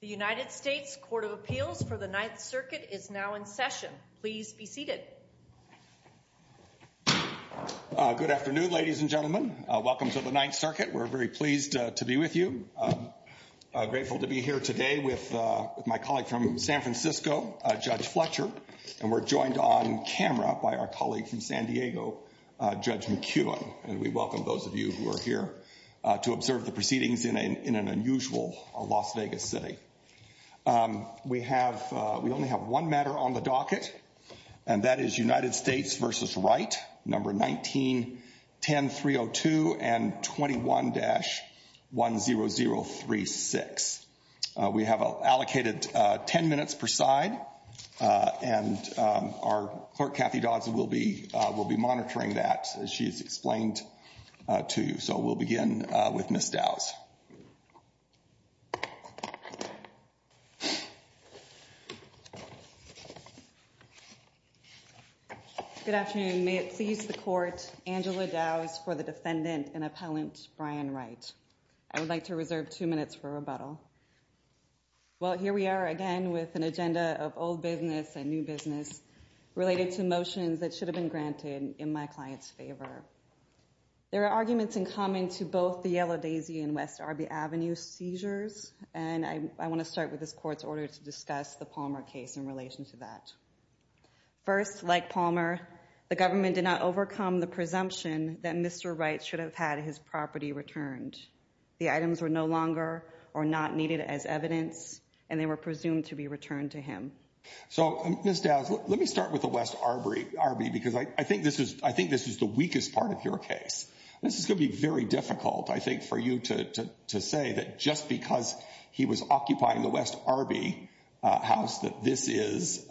The United States Court of Appeals for the Ninth Circuit is now in session. Please be seated. Good afternoon, ladies and gentlemen. Welcome to the Ninth Circuit. We're very pleased to be with you. I'm grateful to be here today with my colleague from San Francisco, Judge Fletcher. And we're joined on camera by our colleague from San Diego, Judge McKeown. And we welcome those of you who are here to observe the proceedings in an unusual Las Vegas city. We only have one matter on the docket, and that is United States v. Wright, No. 19-10302 and 21-10036. We have allocated 10 minutes per side, and our clerk, Kathy Dodds, will be monitoring that as she's explained to you. So we'll begin with Ms. Dowds. Good afternoon. May it please the Court, Angela Dowds for the defendant and appellant, Brian Wright. I would like to reserve two minutes for rebuttal. Well, here we are again with an agenda of old business and new business related to motions that should have been granted in my client's favor. There are arguments in common to both the Yellow Daisy and West Arby Avenue seizures, and I want to start with this Court's order to discuss the Palmer case in relation to that. First, like Palmer, the government did not overcome the presumption that Mr. Wright should have had his property returned. The items were no longer or not needed as evidence, and they were presumed to be returned to him. So, Ms. Dowds, let me start with the West Arby because I think this is the weakest part of your case. This is going to be very difficult, I think, for you to say that just because he was occupying the West Arby house that this is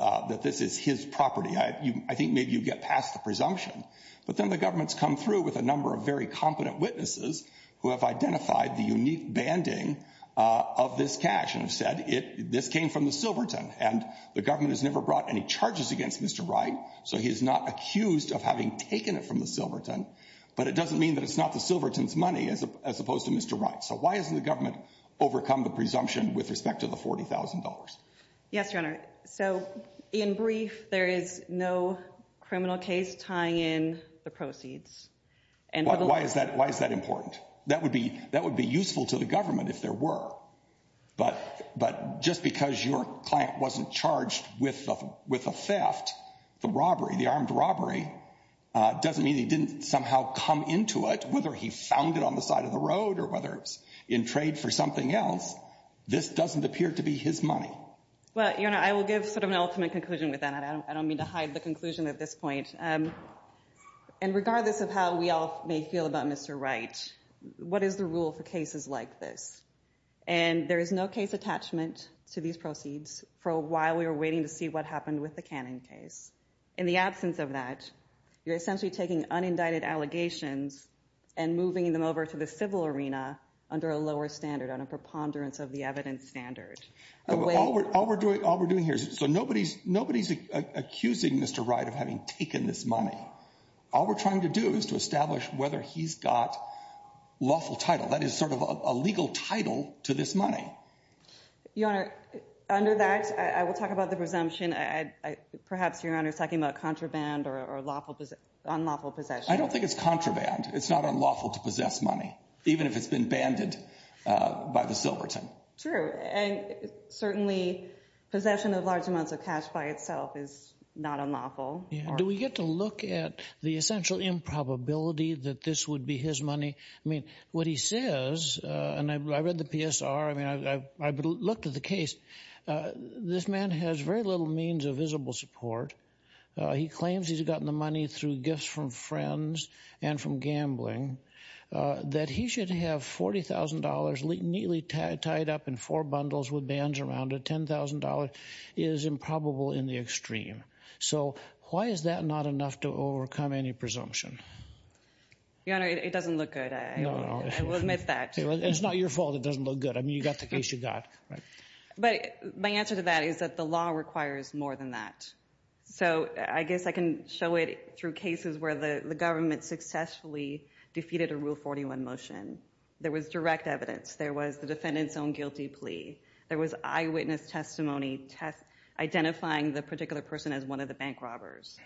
his property. I think maybe you get past the presumption. But then the government's come through with a number of very competent witnesses who have identified the unique banding of this cash and have said this came from the Silverton, and the government has never brought any charges against Mr. Wright, so he's not accused of having taken it from the Silverton. But it doesn't mean that it's not the Silverton's money as opposed to Mr. Wright's. So why hasn't the government overcome the presumption with respect to the $40,000? Yes, Your Honor. So, in brief, there is no criminal case tying in the proceeds. Why is that important? That would be useful to the government if there were. But just because your client wasn't charged with a theft, the robbery, the armed robbery, doesn't mean that he didn't somehow come into it, whether he found it on the side of the road or whether it was in trade for something else. This doesn't appear to be his money. Well, Your Honor, I will give sort of an ultimate conclusion with that. I don't mean to hide the conclusion at this point. And regardless of how we all may feel about Mr. Wright, what is the rule for cases like this? And there is no case attachment to these proceeds. For a while, we were waiting to see what happened with the Cannon case. In the absence of that, you're essentially taking unindicted allegations and moving them over to the civil arena under a lower standard, on a preponderance of the evidence standard. All we're doing here is so nobody's accusing Mr. Wright of having taken this money. All we're trying to do is to establish whether he's got lawful title. That is sort of a legal title to this money. Your Honor, under that, I will talk about the presumption. Perhaps Your Honor is talking about contraband or unlawful possession. I don't think it's contraband. It's not unlawful to possess money, even if it's been banded by the Silverton. True. And certainly possession of large amounts of cash by itself is not unlawful. Do we get to look at the essential improbability that this would be his money? I mean, what he says, and I read the PSR, I mean, I looked at the case. This man has very little means of visible support. He claims he's gotten the money through gifts from friends and from gambling. That he should have $40,000 neatly tied up in four bundles with bands around it, $10,000 is improbable in the extreme. So why is that not enough to overcome any presumption? Your Honor, it doesn't look good. I will admit that. It's not your fault it doesn't look good. I mean, you got the case you got. But my answer to that is that the law requires more than that. So I guess I can show it through cases where the government successfully defeated a Rule 41 motion. There was direct evidence. There was the defendant's own guilty plea. There was eyewitness testimony identifying the particular person as one of the bank robbers.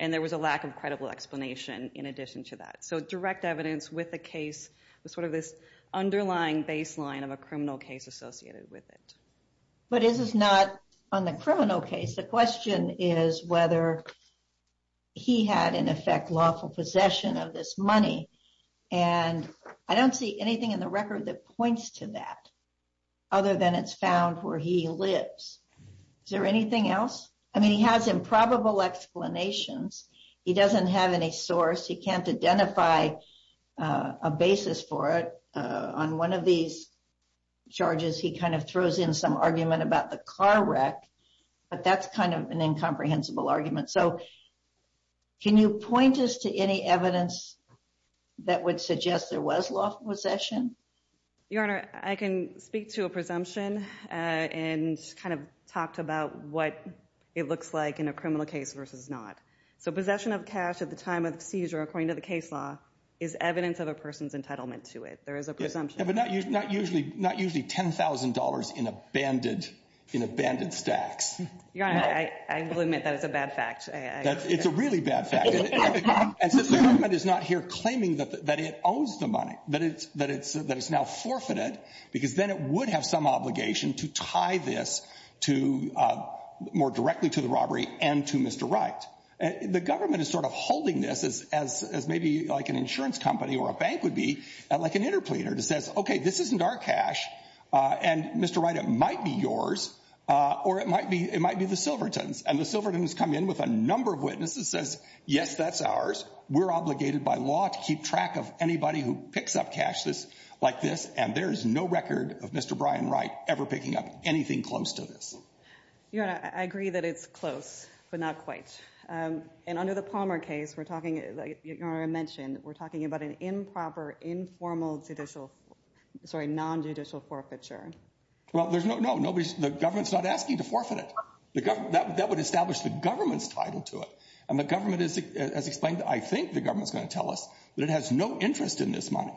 And there was a lack of credible explanation in addition to that. So direct evidence with the case was sort of this underlying baseline of a criminal case associated with it. But this is not on the criminal case. The question is whether he had, in effect, lawful possession of this money. And I don't see anything in the record that points to that other than it's found where he lives. Is there anything else? I mean, he has improbable explanations. He doesn't have any source. He can't identify a basis for it. On one of these charges, he kind of throws in some argument about the car wreck. But that's kind of an incomprehensible argument. So can you point us to any evidence that would suggest there was lawful possession? Your Honor, I can speak to a presumption and kind of talk about what it looks like in a criminal case versus not. So possession of cash at the time of seizure, according to the case law, is evidence of a person's entitlement to it. There is a presumption. But not usually $10,000 in abandoned stacks. Your Honor, I will admit that it's a bad fact. It's a really bad fact. And since the government is not here claiming that it owns the money, that it's now forfeited, because then it would have some obligation to tie this more directly to the robbery and to Mr. Wright, the government is sort of holding this as maybe like an insurance company or a bank would be, like an interpleader that says, OK, this isn't our cash. And Mr. Wright, it might be yours or it might be the Silverton's. And the Silverton's come in with a number of witnesses, says, yes, that's ours. We're obligated by law to keep track of anybody who picks up cash like this. And there is no record of Mr. Brian Wright ever picking up anything close to this. Your Honor, I agree that it's close, but not quite. And under the Palmer case, we're talking, like Your Honor mentioned, we're talking about an improper, informal judicial, sorry, non-judicial forfeiture. Well, there's no, no, nobody's, the government's not asking to forfeit it. That would establish the government's title to it. And the government has explained, I think the government's going to tell us, that it has no interest in this money.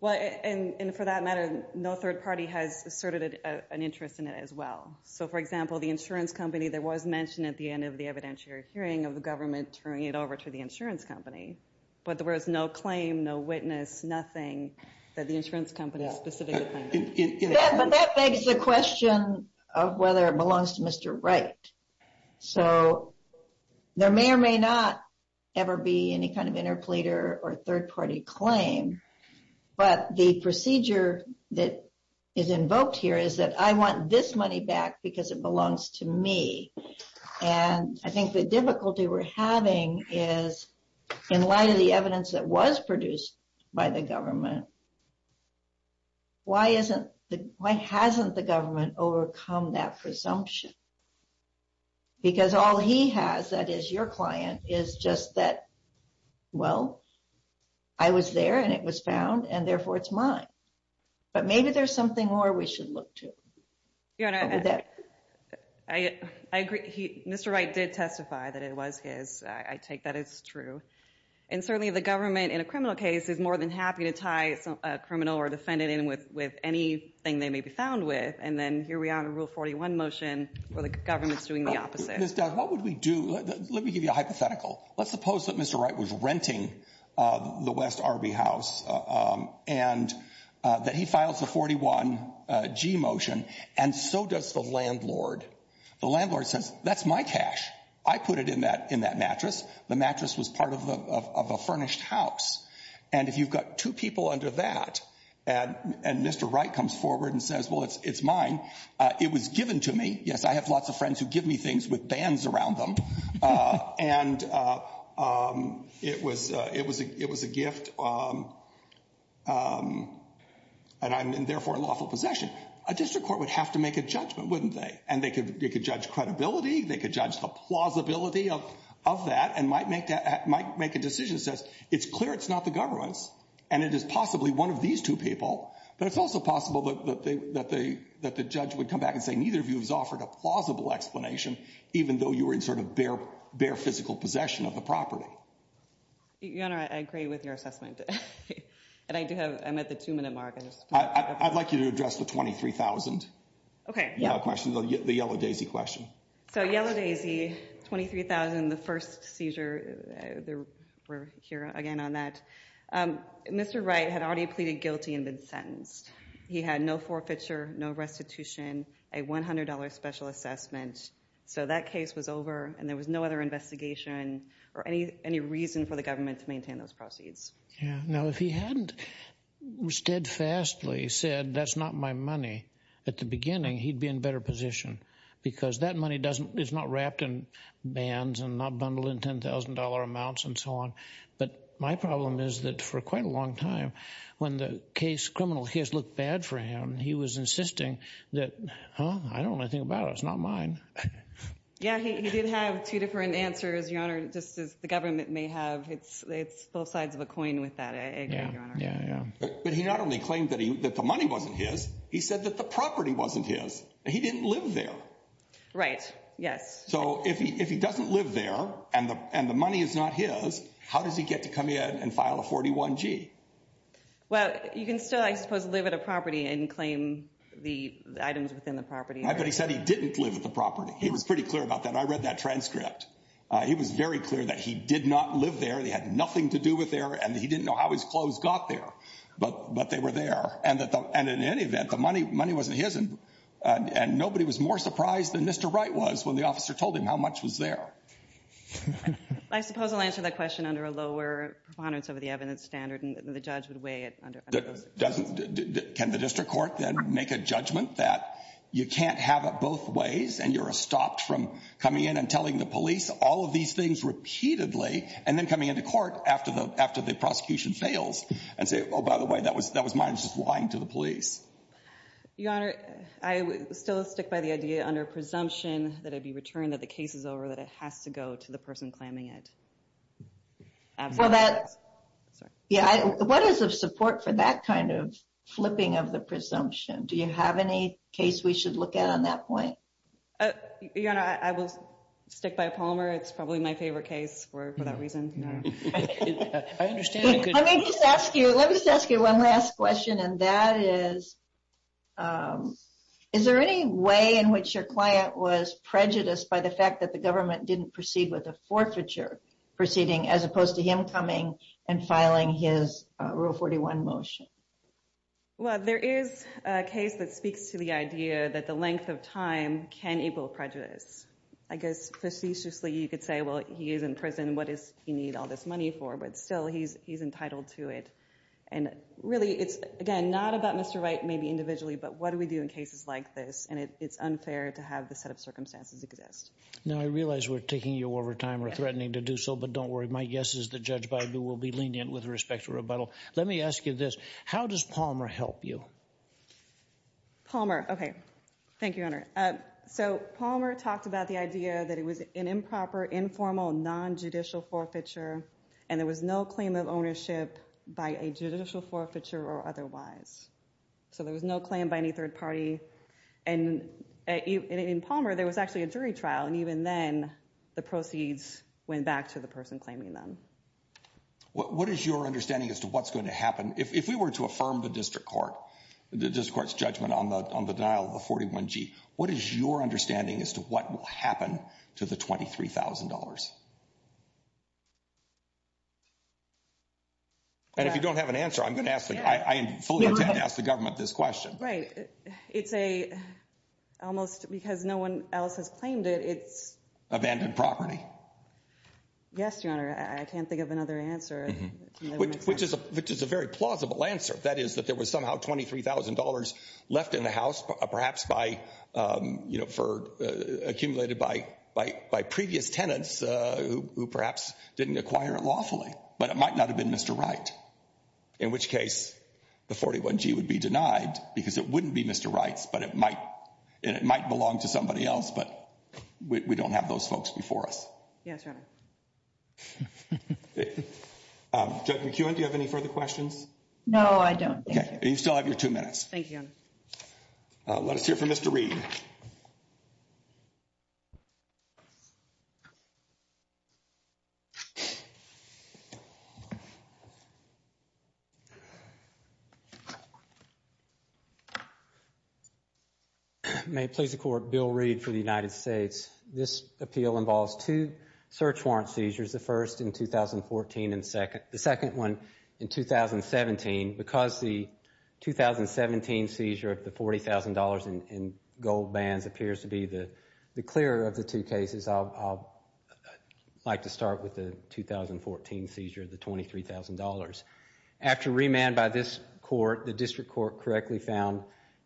Well, and for that matter, no third party has asserted an interest in it as well. So, for example, the insurance company that was mentioned at the end of the evidentiary hearing of the government turning it over to the insurance company, but there was no claim, no witness, nothing that the insurance company specifically claimed. But that begs the question of whether it belongs to Mr. Wright. So, there may or may not ever be any kind of interpleader or third party claim. But the procedure that is invoked here is that I want this money back because it belongs to me. And I think the difficulty we're having is, in light of the evidence that was produced by the government, why hasn't the government overcome that presumption? Because all he has, that is your client, is just that, well, I was there and it was found, and therefore it's mine. But maybe there's something more we should look to. I agree. Mr. Wright did testify that it was his. I take that as true. And certainly the government, in a criminal case, is more than happy to tie a criminal or defendant in with anything they may be found with. And then here we are in a Rule 41 motion where the government's doing the opposite. Ms. Dunn, what would we do? Let me give you a hypothetical. Let's suppose that Mr. Wright was renting the West Arby house and that he files a 41G motion, and so does the landlord. The landlord says, that's my cash. I put it in that mattress. The mattress was part of a furnished house. And if you've got two people under that and Mr. Wright comes forward and says, well, it's mine. It was given to me. Yes, I have lots of friends who give me things with bands around them. And it was a gift, and I'm therefore in lawful possession. A district court would have to make a judgment, wouldn't they? And they could judge credibility. They could judge the plausibility of that and might make a decision that says, it's clear it's not the government's, and it is possibly one of these two people. But it's also possible that the judge would come back and say, neither of you has offered a plausible explanation, even though you were in sort of bare physical possession of the property. Your Honor, I agree with your assessment. And I'm at the two-minute mark. I'd like you to address the $23,000. Okay. The Yellow Daisy question. So Yellow Daisy, $23,000, the first seizure. We're here again on that. Mr. Wright had already pleaded guilty and been sentenced. He had no forfeiture, no restitution, a $100 special assessment. So that case was over, and there was no other investigation or any reason for the government to maintain those proceeds. Yeah. Now, if he hadn't steadfastly said, that's not my money at the beginning, he'd be in a better position because that money is not wrapped in bands and not bundled in $10,000 amounts and so on. But my problem is that for quite a long time, when the case criminal case looked bad for him, he was insisting that, huh, I don't know anything about it. It's not mine. Yeah, he did have two different answers, Your Honor, just as the government may have. It's both sides of a coin with that, I agree, Your Honor. Yeah, yeah, yeah. But he not only claimed that the money wasn't his, he said that the property wasn't his. He didn't live there. Right, yes. So if he doesn't live there and the money is not his, how does he get to come in and file a 41-G? Well, you can still, I suppose, live at a property and claim the items within the property. But he said he didn't live at the property. He was pretty clear about that. I read that transcript. He was very clear that he did not live there. He had nothing to do with there, and he didn't know how his clothes got there, but they were there. And in any event, the money wasn't his, and nobody was more surprised than Mr. Wright was when the officer told him how much was there. I suppose I'll answer that question under a lower preponderance of the evidence standard, and the judge would weigh it under those circumstances. Can the district court then make a judgment that you can't have it both ways and you're stopped from coming in and telling the police all of these things repeatedly and then coming into court after the prosecution fails and say, oh, by the way, that was mine. I was just lying to the police. Your Honor, I still stick by the idea under presumption that it be returned, that the case is over, that it has to go to the person claiming it. Well, what is the support for that kind of flipping of the presumption? Do you have any case we should look at on that point? Your Honor, I will stick by Palmer. It's probably my favorite case for that reason. Let me just ask you one last question, and that is, is there any way in which your client was prejudiced by the fact that the government didn't proceed with a forfeiture proceeding as opposed to him coming and filing his Rule 41 motion? Well, there is a case that speaks to the idea that the length of time can able prejudice. I guess facetiously you could say, well, he is in prison. What does he need all this money for? But still, he's entitled to it. And really, it's, again, not about Mr. Wright, maybe individually, but what do we do in cases like this? And it's unfair to have this set of circumstances exist. Now, I realize we're taking you over time or threatening to do so, but don't worry. My guess is that Judge Baidu will be lenient with respect to rebuttal. Let me ask you this. How does Palmer help you? Palmer, okay. Thank you, Your Honor. So Palmer talked about the idea that it was an improper, informal, nonjudicial forfeiture, and there was no claim of ownership by a judicial forfeiture or otherwise. So there was no claim by any third party. And in Palmer, there was actually a jury trial, and even then the proceeds went back to the person claiming them. What is your understanding as to what's going to happen? If we were to affirm the district court's judgment on the denial of the 41G, what is your understanding as to what will happen to the $23,000? And if you don't have an answer, I'm going to ask the government this question. Right. It's almost because no one else has claimed it. Abandoned property. Yes, Your Honor. I can't think of another answer. Which is a very plausible answer. That is that there was somehow $23,000 left in the house, perhaps accumulated by previous tenants who perhaps didn't acquire it lawfully. But it might not have been Mr. Wright, in which case the 41G would be denied because it wouldn't be Mr. Wright's, and it might belong to somebody else, but we don't have those folks before us. Yes, Your Honor. Judge McEwen, do you have any further questions? No, I don't. You still have your two minutes. Thank you. Let us hear from Mr. Reed. May it please the Court, Bill Reed for the United States. This appeal involves two search warrant seizures, the first in 2014 and the second one in 2017. Because the 2017 seizure of the $40,000 in gold bands appears to be the clearer of the two cases, I'd like to start with the 2014 seizure of the $23,000. After remand by this court, the district court correctly found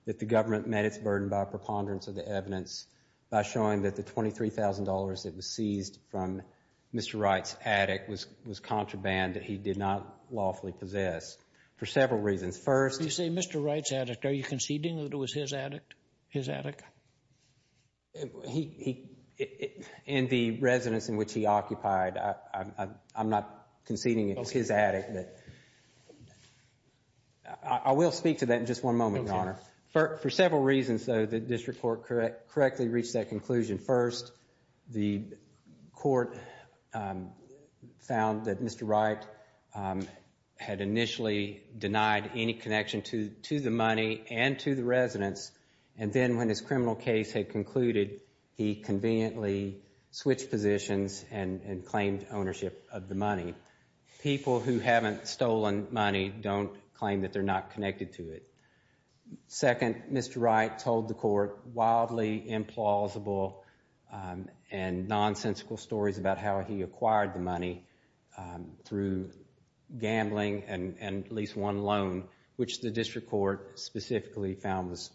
that the government met its burden by a preponderance of the evidence by showing that the $23,000 that was seized from Mr. Wright's attic was contraband that he did not lawfully possess for several reasons. First, You say Mr. Wright's attic. Are you conceding that it was his attic? In the residence in which he occupied, I'm not conceding it was his attic. I will speak to that in just one moment, Your Honor. For several reasons, though, the district court correctly reached that conclusion. First, the court found that Mr. Wright had initially denied any connection to the money and to the residence, and then when his criminal case had concluded, he conveniently switched positions and claimed ownership of the money. People who haven't stolen money don't claim that they're not connected to it. Second, Mr. Wright told the court wildly implausible and nonsensical stories about how he acquired the money through gambling and at least one loan, which the district court specifically found was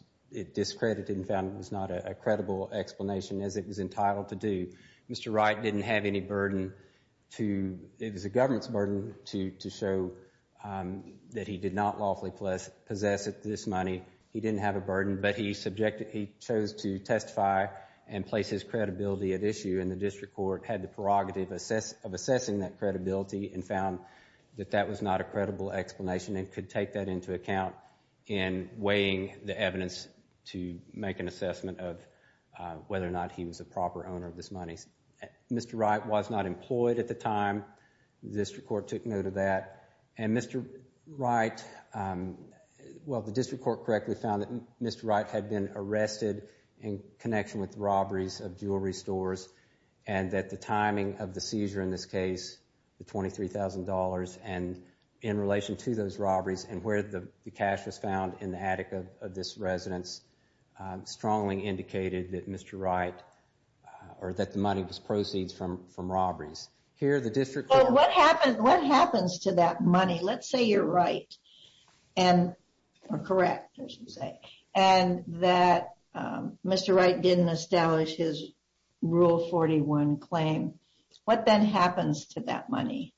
discredited and found it was not a credible explanation as it was entitled to do. Mr. Wright didn't have any burden to, it was the government's burden to show that he did not lawfully possess this money. He didn't have a burden, but he chose to testify and place his credibility at issue, and the district court had the prerogative of assessing that credibility and found that that was not a credible explanation and could take that into account in weighing the evidence to make an assessment of whether or not he was a proper owner of this money. Mr. Wright was not employed at the time, the district court took note of that, and Mr. Wright, well, the district court correctly found that Mr. Wright had been arrested in connection with robberies of jewelry stores and that the timing of the seizure in this case, the $23,000, and in relation to those robberies and where the cash was found in the attic of this residence strongly indicated that Mr. Wright, or that the money was proceeds from robberies. Here, the district court... Well, what happens to that money? Let's say you're right, or correct, as you say, and that Mr. Wright didn't establish his Rule 41 claim. What then happens to that money?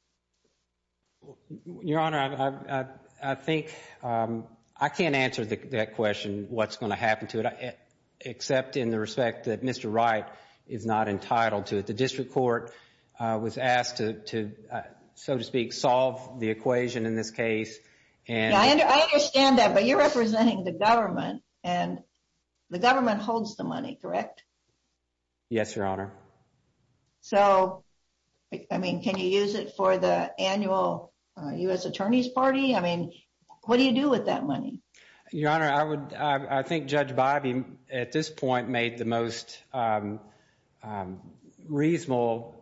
Your Honor, I think I can't answer that question, what's going to happen to it, except in the respect that Mr. Wright is not entitled to it. The district court was asked to, so to speak, solve the equation in this case. I understand that, but you're representing the government, and the government holds the money, correct? Yes, Your Honor. So, I mean, can you use it for the annual U.S. Attorney's Party? I mean, what do you do with that money? Your Honor, I think Judge Bobbie, at this point, made the most reasonable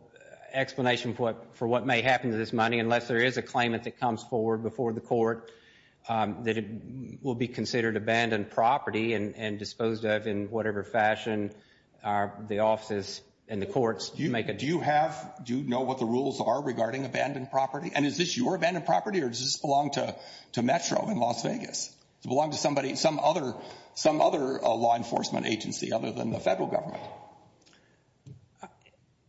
explanation for what may happen to this money, unless there is a claimant that comes forward before the court that it will be considered abandoned property and disposed of in whatever fashion the offices and the courts make it. Do you have, do you know what the rules are regarding abandoned property? And is this your abandoned property, or does this belong to Metro in Las Vegas? Does it belong to somebody, some other law enforcement agency, other than the federal government?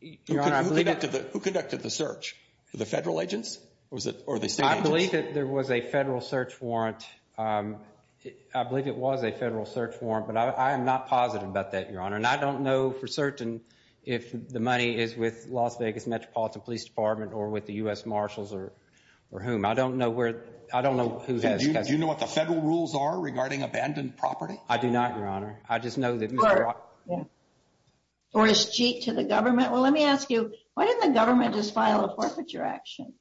Your Honor, I believe that... Who conducted the search? The federal agents, or the state agents? I believe that there was a federal search warrant. I believe it was a federal search warrant, but I am not positive about that, Your Honor. And I don't know for certain if the money is with Las Vegas Metropolitan Police Department or with the U.S. Marshals or whom. I don't know where, I don't know who has... Do you know what the federal rules are regarding abandoned property? I do not, Your Honor. I just know that... Or is cheap to the government? Well, let me ask you, why didn't the government just file a forfeiture action?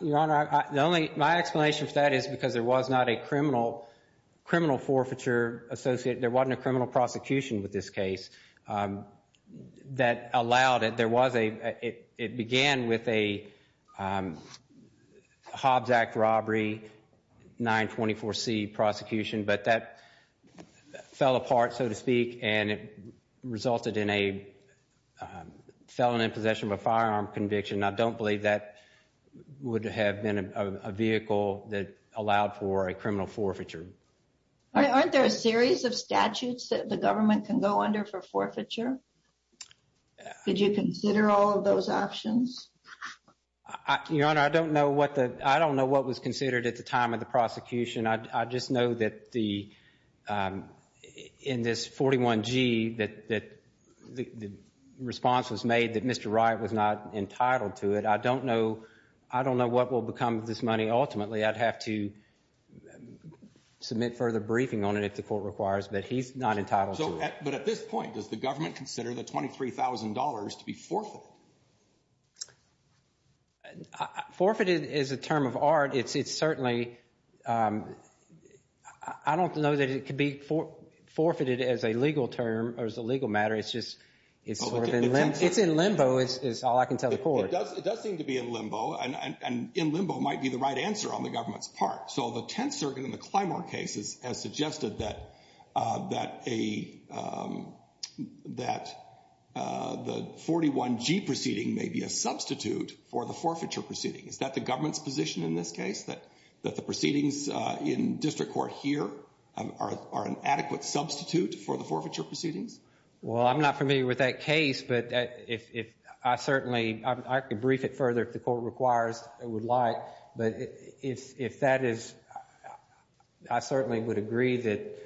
Your Honor, the only, my explanation for that is because there was not a criminal, criminal forfeiture associated, there wasn't a criminal prosecution with this case that allowed it. There was a, it began with a Hobbs Act robbery, 924C prosecution, but that fell apart, so to speak, and it resulted in a felon in possession of a firearm conviction. I don't believe that would have been a vehicle that allowed for a criminal forfeiture. Aren't there a series of statutes that the government can go under for forfeiture? Did you consider all of those options? Your Honor, I don't know what the, I don't know what was considered at the time of the prosecution. I just know that the, in this 41G, that the response was made that Mr. Wright was not entitled to it. I don't know, I don't know what will become of this money. Ultimately, I'd have to submit further briefing on it if the court requires, but he's not entitled to it. But at this point, does the government consider the $23,000 to be forfeited? Forfeited is a term of art. It's certainly, I don't know that it could be forfeited as a legal term or as a legal matter. It's just, it's sort of in limbo is all I can tell the court. It does seem to be in limbo, and in limbo might be the right answer on the government's part. So the Tenth Circuit in the Clymer case has suggested that a, that the 41G proceeding may be a substitute for the forfeiture proceeding. Is that the government's position in this case, that the proceedings in district court here are an adequate substitute for the forfeiture proceedings? Well, I'm not familiar with that case, but if I certainly, I could brief it further if the court requires and would like. But if that is, I certainly would agree that,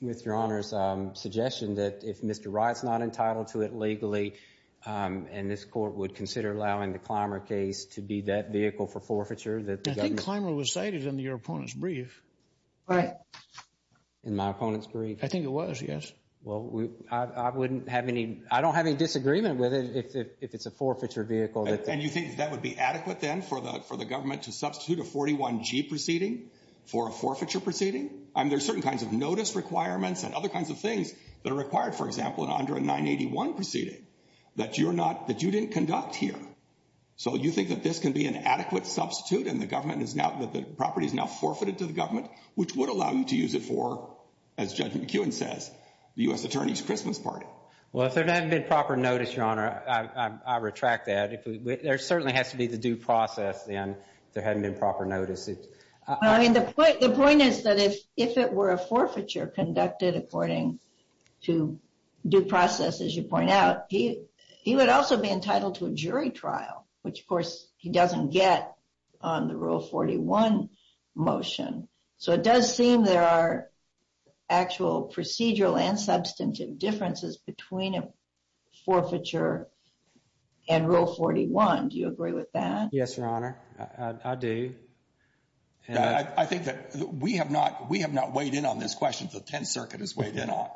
with Your Honor's suggestion, that if Mr. Wright's not entitled to it legally, and this court would consider allowing the Clymer case to be that vehicle for forfeiture. I think Clymer was cited in your opponent's brief. In my opponent's brief? I think it was, yes. Well, I wouldn't have any, I don't have any disagreement with it if it's a forfeiture vehicle. And you think that would be adequate then for the government to substitute a 41G proceeding for a forfeiture proceeding? I mean, there's certain kinds of notice requirements and other kinds of things that are required, for example, under a 981 proceeding that you're not, that you didn't conduct here. So you think that this can be an adequate substitute and the government is now, that the property is now forfeited to the government, which would allow you to use it for, as Judge McEwen says, the U.S. Attorney's Christmas party. Well, if there hadn't been proper notice, Your Honor, I retract that. There certainly has to be the due process then if there hadn't been proper notice. The point is that if it were a forfeiture conducted according to due process, as you point out, he would also be entitled to a jury trial, which, of course, he doesn't get on the Rule 41 motion. So it does seem there are actual procedural and substantive differences between a forfeiture and Rule 41. Do you agree with that? Yes, Your Honor, I do. I think that we have not weighed in on this question. The Tenth Circuit has weighed in on it.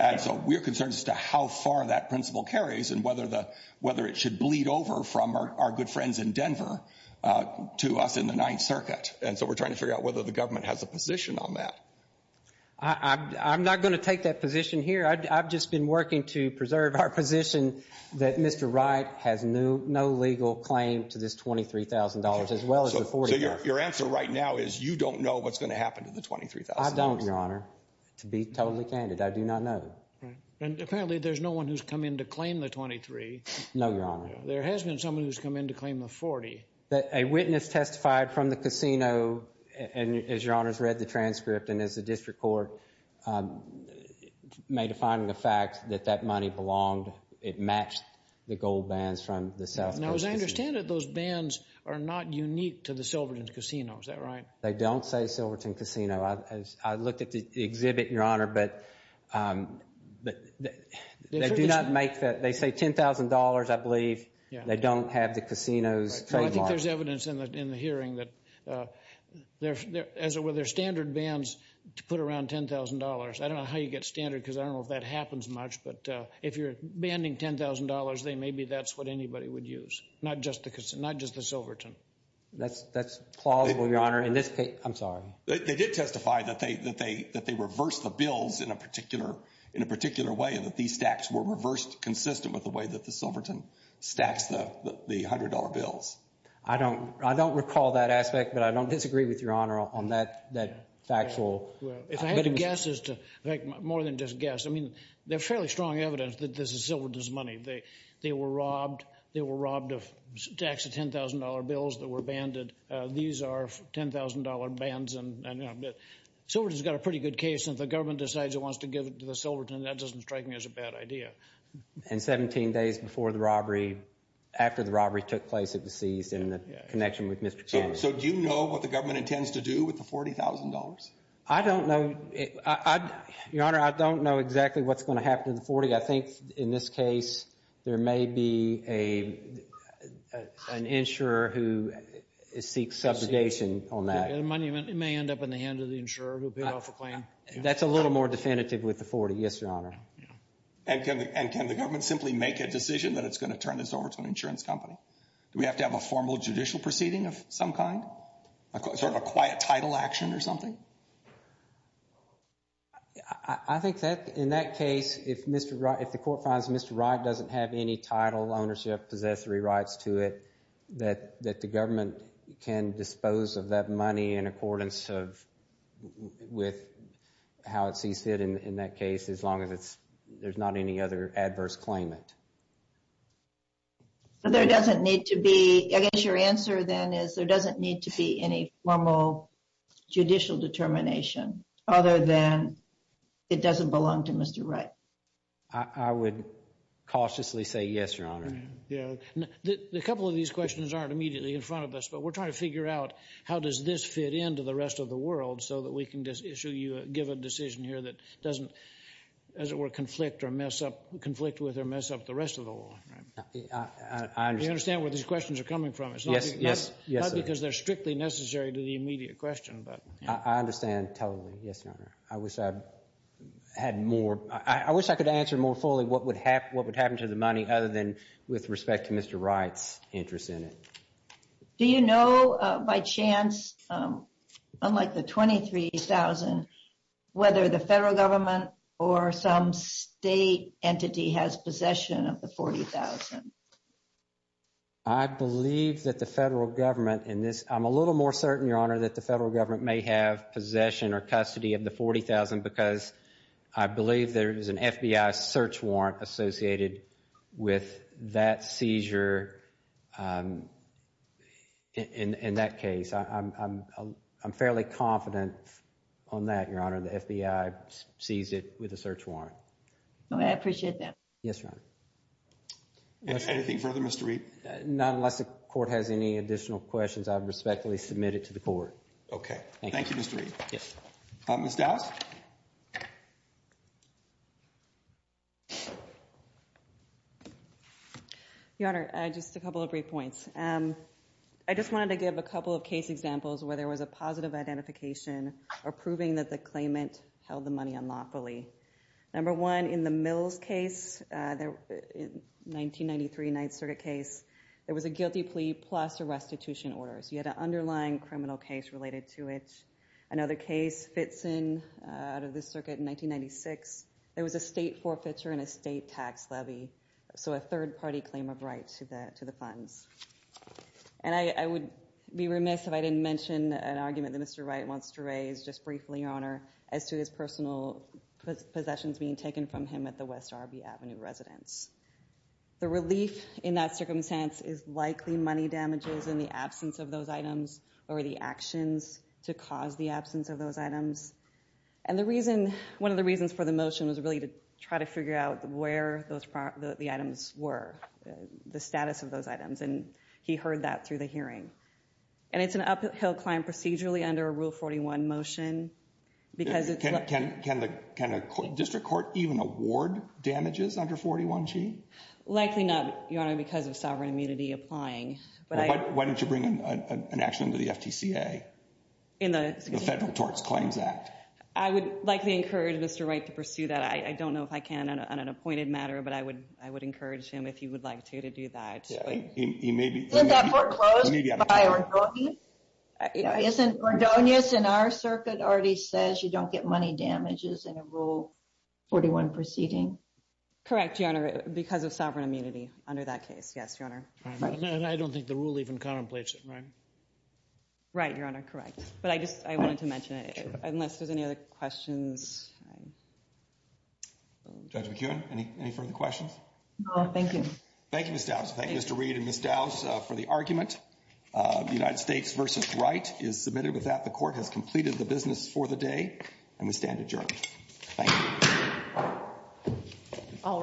And so we're concerned as to how far that principle carries and whether it should bleed over from our good friends in Denver to us in the Ninth Circuit. And so we're trying to figure out whether the government has a position on that. I'm not going to take that position here. I've just been working to preserve our position that Mr. Wright has no legal claim to this $23,000 as well as the $40,000. So your answer right now is you don't know what's going to happen to the $23,000? I don't, Your Honor, to be totally candid. I do not know. And apparently there's no one who's come in to claim the $23,000. No, Your Honor. There has been someone who's come in to claim the $40,000. A witness testified from the casino, and as Your Honor has read the transcript and as the district court made a finding of fact that that money belonged, it matched the gold bands from the South Coast Casino. Now as I understand it, those bands are not unique to the Silverton Casino. Is that right? They don't say Silverton Casino. I looked at the exhibit, Your Honor, but they do not make that. They say $10,000, I believe. They don't have the casino's trademark. Well, I think there's evidence in the hearing that as it were, there are standard bands to put around $10,000. I don't know how you get standard because I don't know if that happens much, but if you're banding $10,000, then maybe that's what anybody would use, not just the Silverton. That's plausible, Your Honor. I'm sorry. They did testify that they reversed the bills in a particular way and that these stacks were reversed consistent with the way that the Silverton stacks the $100 bills. I don't recall that aspect, but I don't disagree with Your Honor on that factual. If I had to guess, more than just guess, I mean there's fairly strong evidence that this is Silverton's money. They were robbed. They were robbed of stacks of $10,000 bills that were banded. These are $10,000 bands. Silverton's got a pretty good case, and if the government decides it wants to give it to the Silverton, that doesn't strike me as a bad idea. And 17 days before the robbery, after the robbery took place, it was seized in connection with Mr. Kennedy. So do you know what the government intends to do with the $40,000? I don't know. Your Honor, I don't know exactly what's going to happen to the $40,000. I think in this case there may be an insurer who seeks subjugation on that. It may end up in the hands of the insurer who paid off a claim. That's a little more definitive with the $40,000, yes, Your Honor. And can the government simply make a decision that it's going to turn this over to an insurance company? Do we have to have a formal judicial proceeding of some kind? Sort of a quiet title action or something? I think that in that case, if the court finds Mr. Wright doesn't have any title, ownership, possessory rights to it, that the government can dispose of that money in accordance with how it sees fit in that case, as long as there's not any other adverse claimant. There doesn't need to be, I guess your answer then is there doesn't need to be any formal judicial determination other than it doesn't belong to Mr. Wright. I would cautiously say yes, Your Honor. A couple of these questions aren't immediately in front of us, but we're trying to figure out how does this fit into the rest of the world so that we can issue you, give a decision here that doesn't, as it were, conflict with or mess up the rest of the world. Do you understand where these questions are coming from? It's not because they're strictly necessary to the immediate question. I understand totally, yes, Your Honor. I wish I had more, I wish I could answer more fully what would happen to the money other than with respect to Mr. Wright's interest in it. Do you know by chance, unlike the $23,000, whether the federal government or some state entity has possession of the $40,000? I believe that the federal government in this, I'm a little more certain, Your Honor, that the federal government may have possession or custody of the $40,000 because I believe there is an FBI search warrant associated with that seizure in that case. I'm fairly confident on that, Your Honor. The FBI seized it with a search warrant. I appreciate that. Yes, Your Honor. Anything further, Mr. Reed? Not unless the court has any additional questions, I respectfully submit it to the court. Okay. Thank you, Mr. Reed. Ms. Dowd? Your Honor, just a couple of brief points. I just wanted to give a couple of case examples where there was a positive identification or proving that the claimant held the money unlawfully. Number one, in the Mills case, 1993 Ninth Circuit case, there was a guilty plea plus a restitution order. So you had an underlying criminal case related to it. Another case fits in out of the circuit in 1996. There was a state forfeiture and a state tax levy. So a third-party claim of right to the funds. And I would be remiss if I didn't mention an argument that Mr. Wright wants to raise, just briefly, Your Honor, as to his personal possessions being taken from him at the West Arby Avenue residence. The relief in that circumstance is likely money damages in the absence of those items or the actions to cause the absence of those items. And the reason, one of the reasons for the motion was really to try to figure out where the items were, the status of those items. And he heard that through the hearing. And it's an uphill climb procedurally under a Rule 41 motion. Can a district court even award damages under 41G? Likely not, Your Honor, because of sovereign immunity applying. Why don't you bring an action to the FTCA, the Federal Tort Claims Act? I would likely encourage Mr. Wright to pursue that. I don't know if I can on an appointed matter, but I would encourage him, if he would like to, to do that. Isn't that foreclosed by Ordonez? Isn't Ordonez in our circuit already says you don't get money damages in a Rule 41 proceeding? Correct, Your Honor, because of sovereign immunity under that case, yes, Your Honor. And I don't think the rule even contemplates it, right? Right, Your Honor, correct. But I just wanted to mention it unless there's any other questions. Judge McKeown, any further questions? No, thank you. Thank you, Ms. Dowse. That concludes the court for the argument. United States v. Wright is submitted with that. The court has completed the business for the day, and we stand adjourned. Thank you. All rise.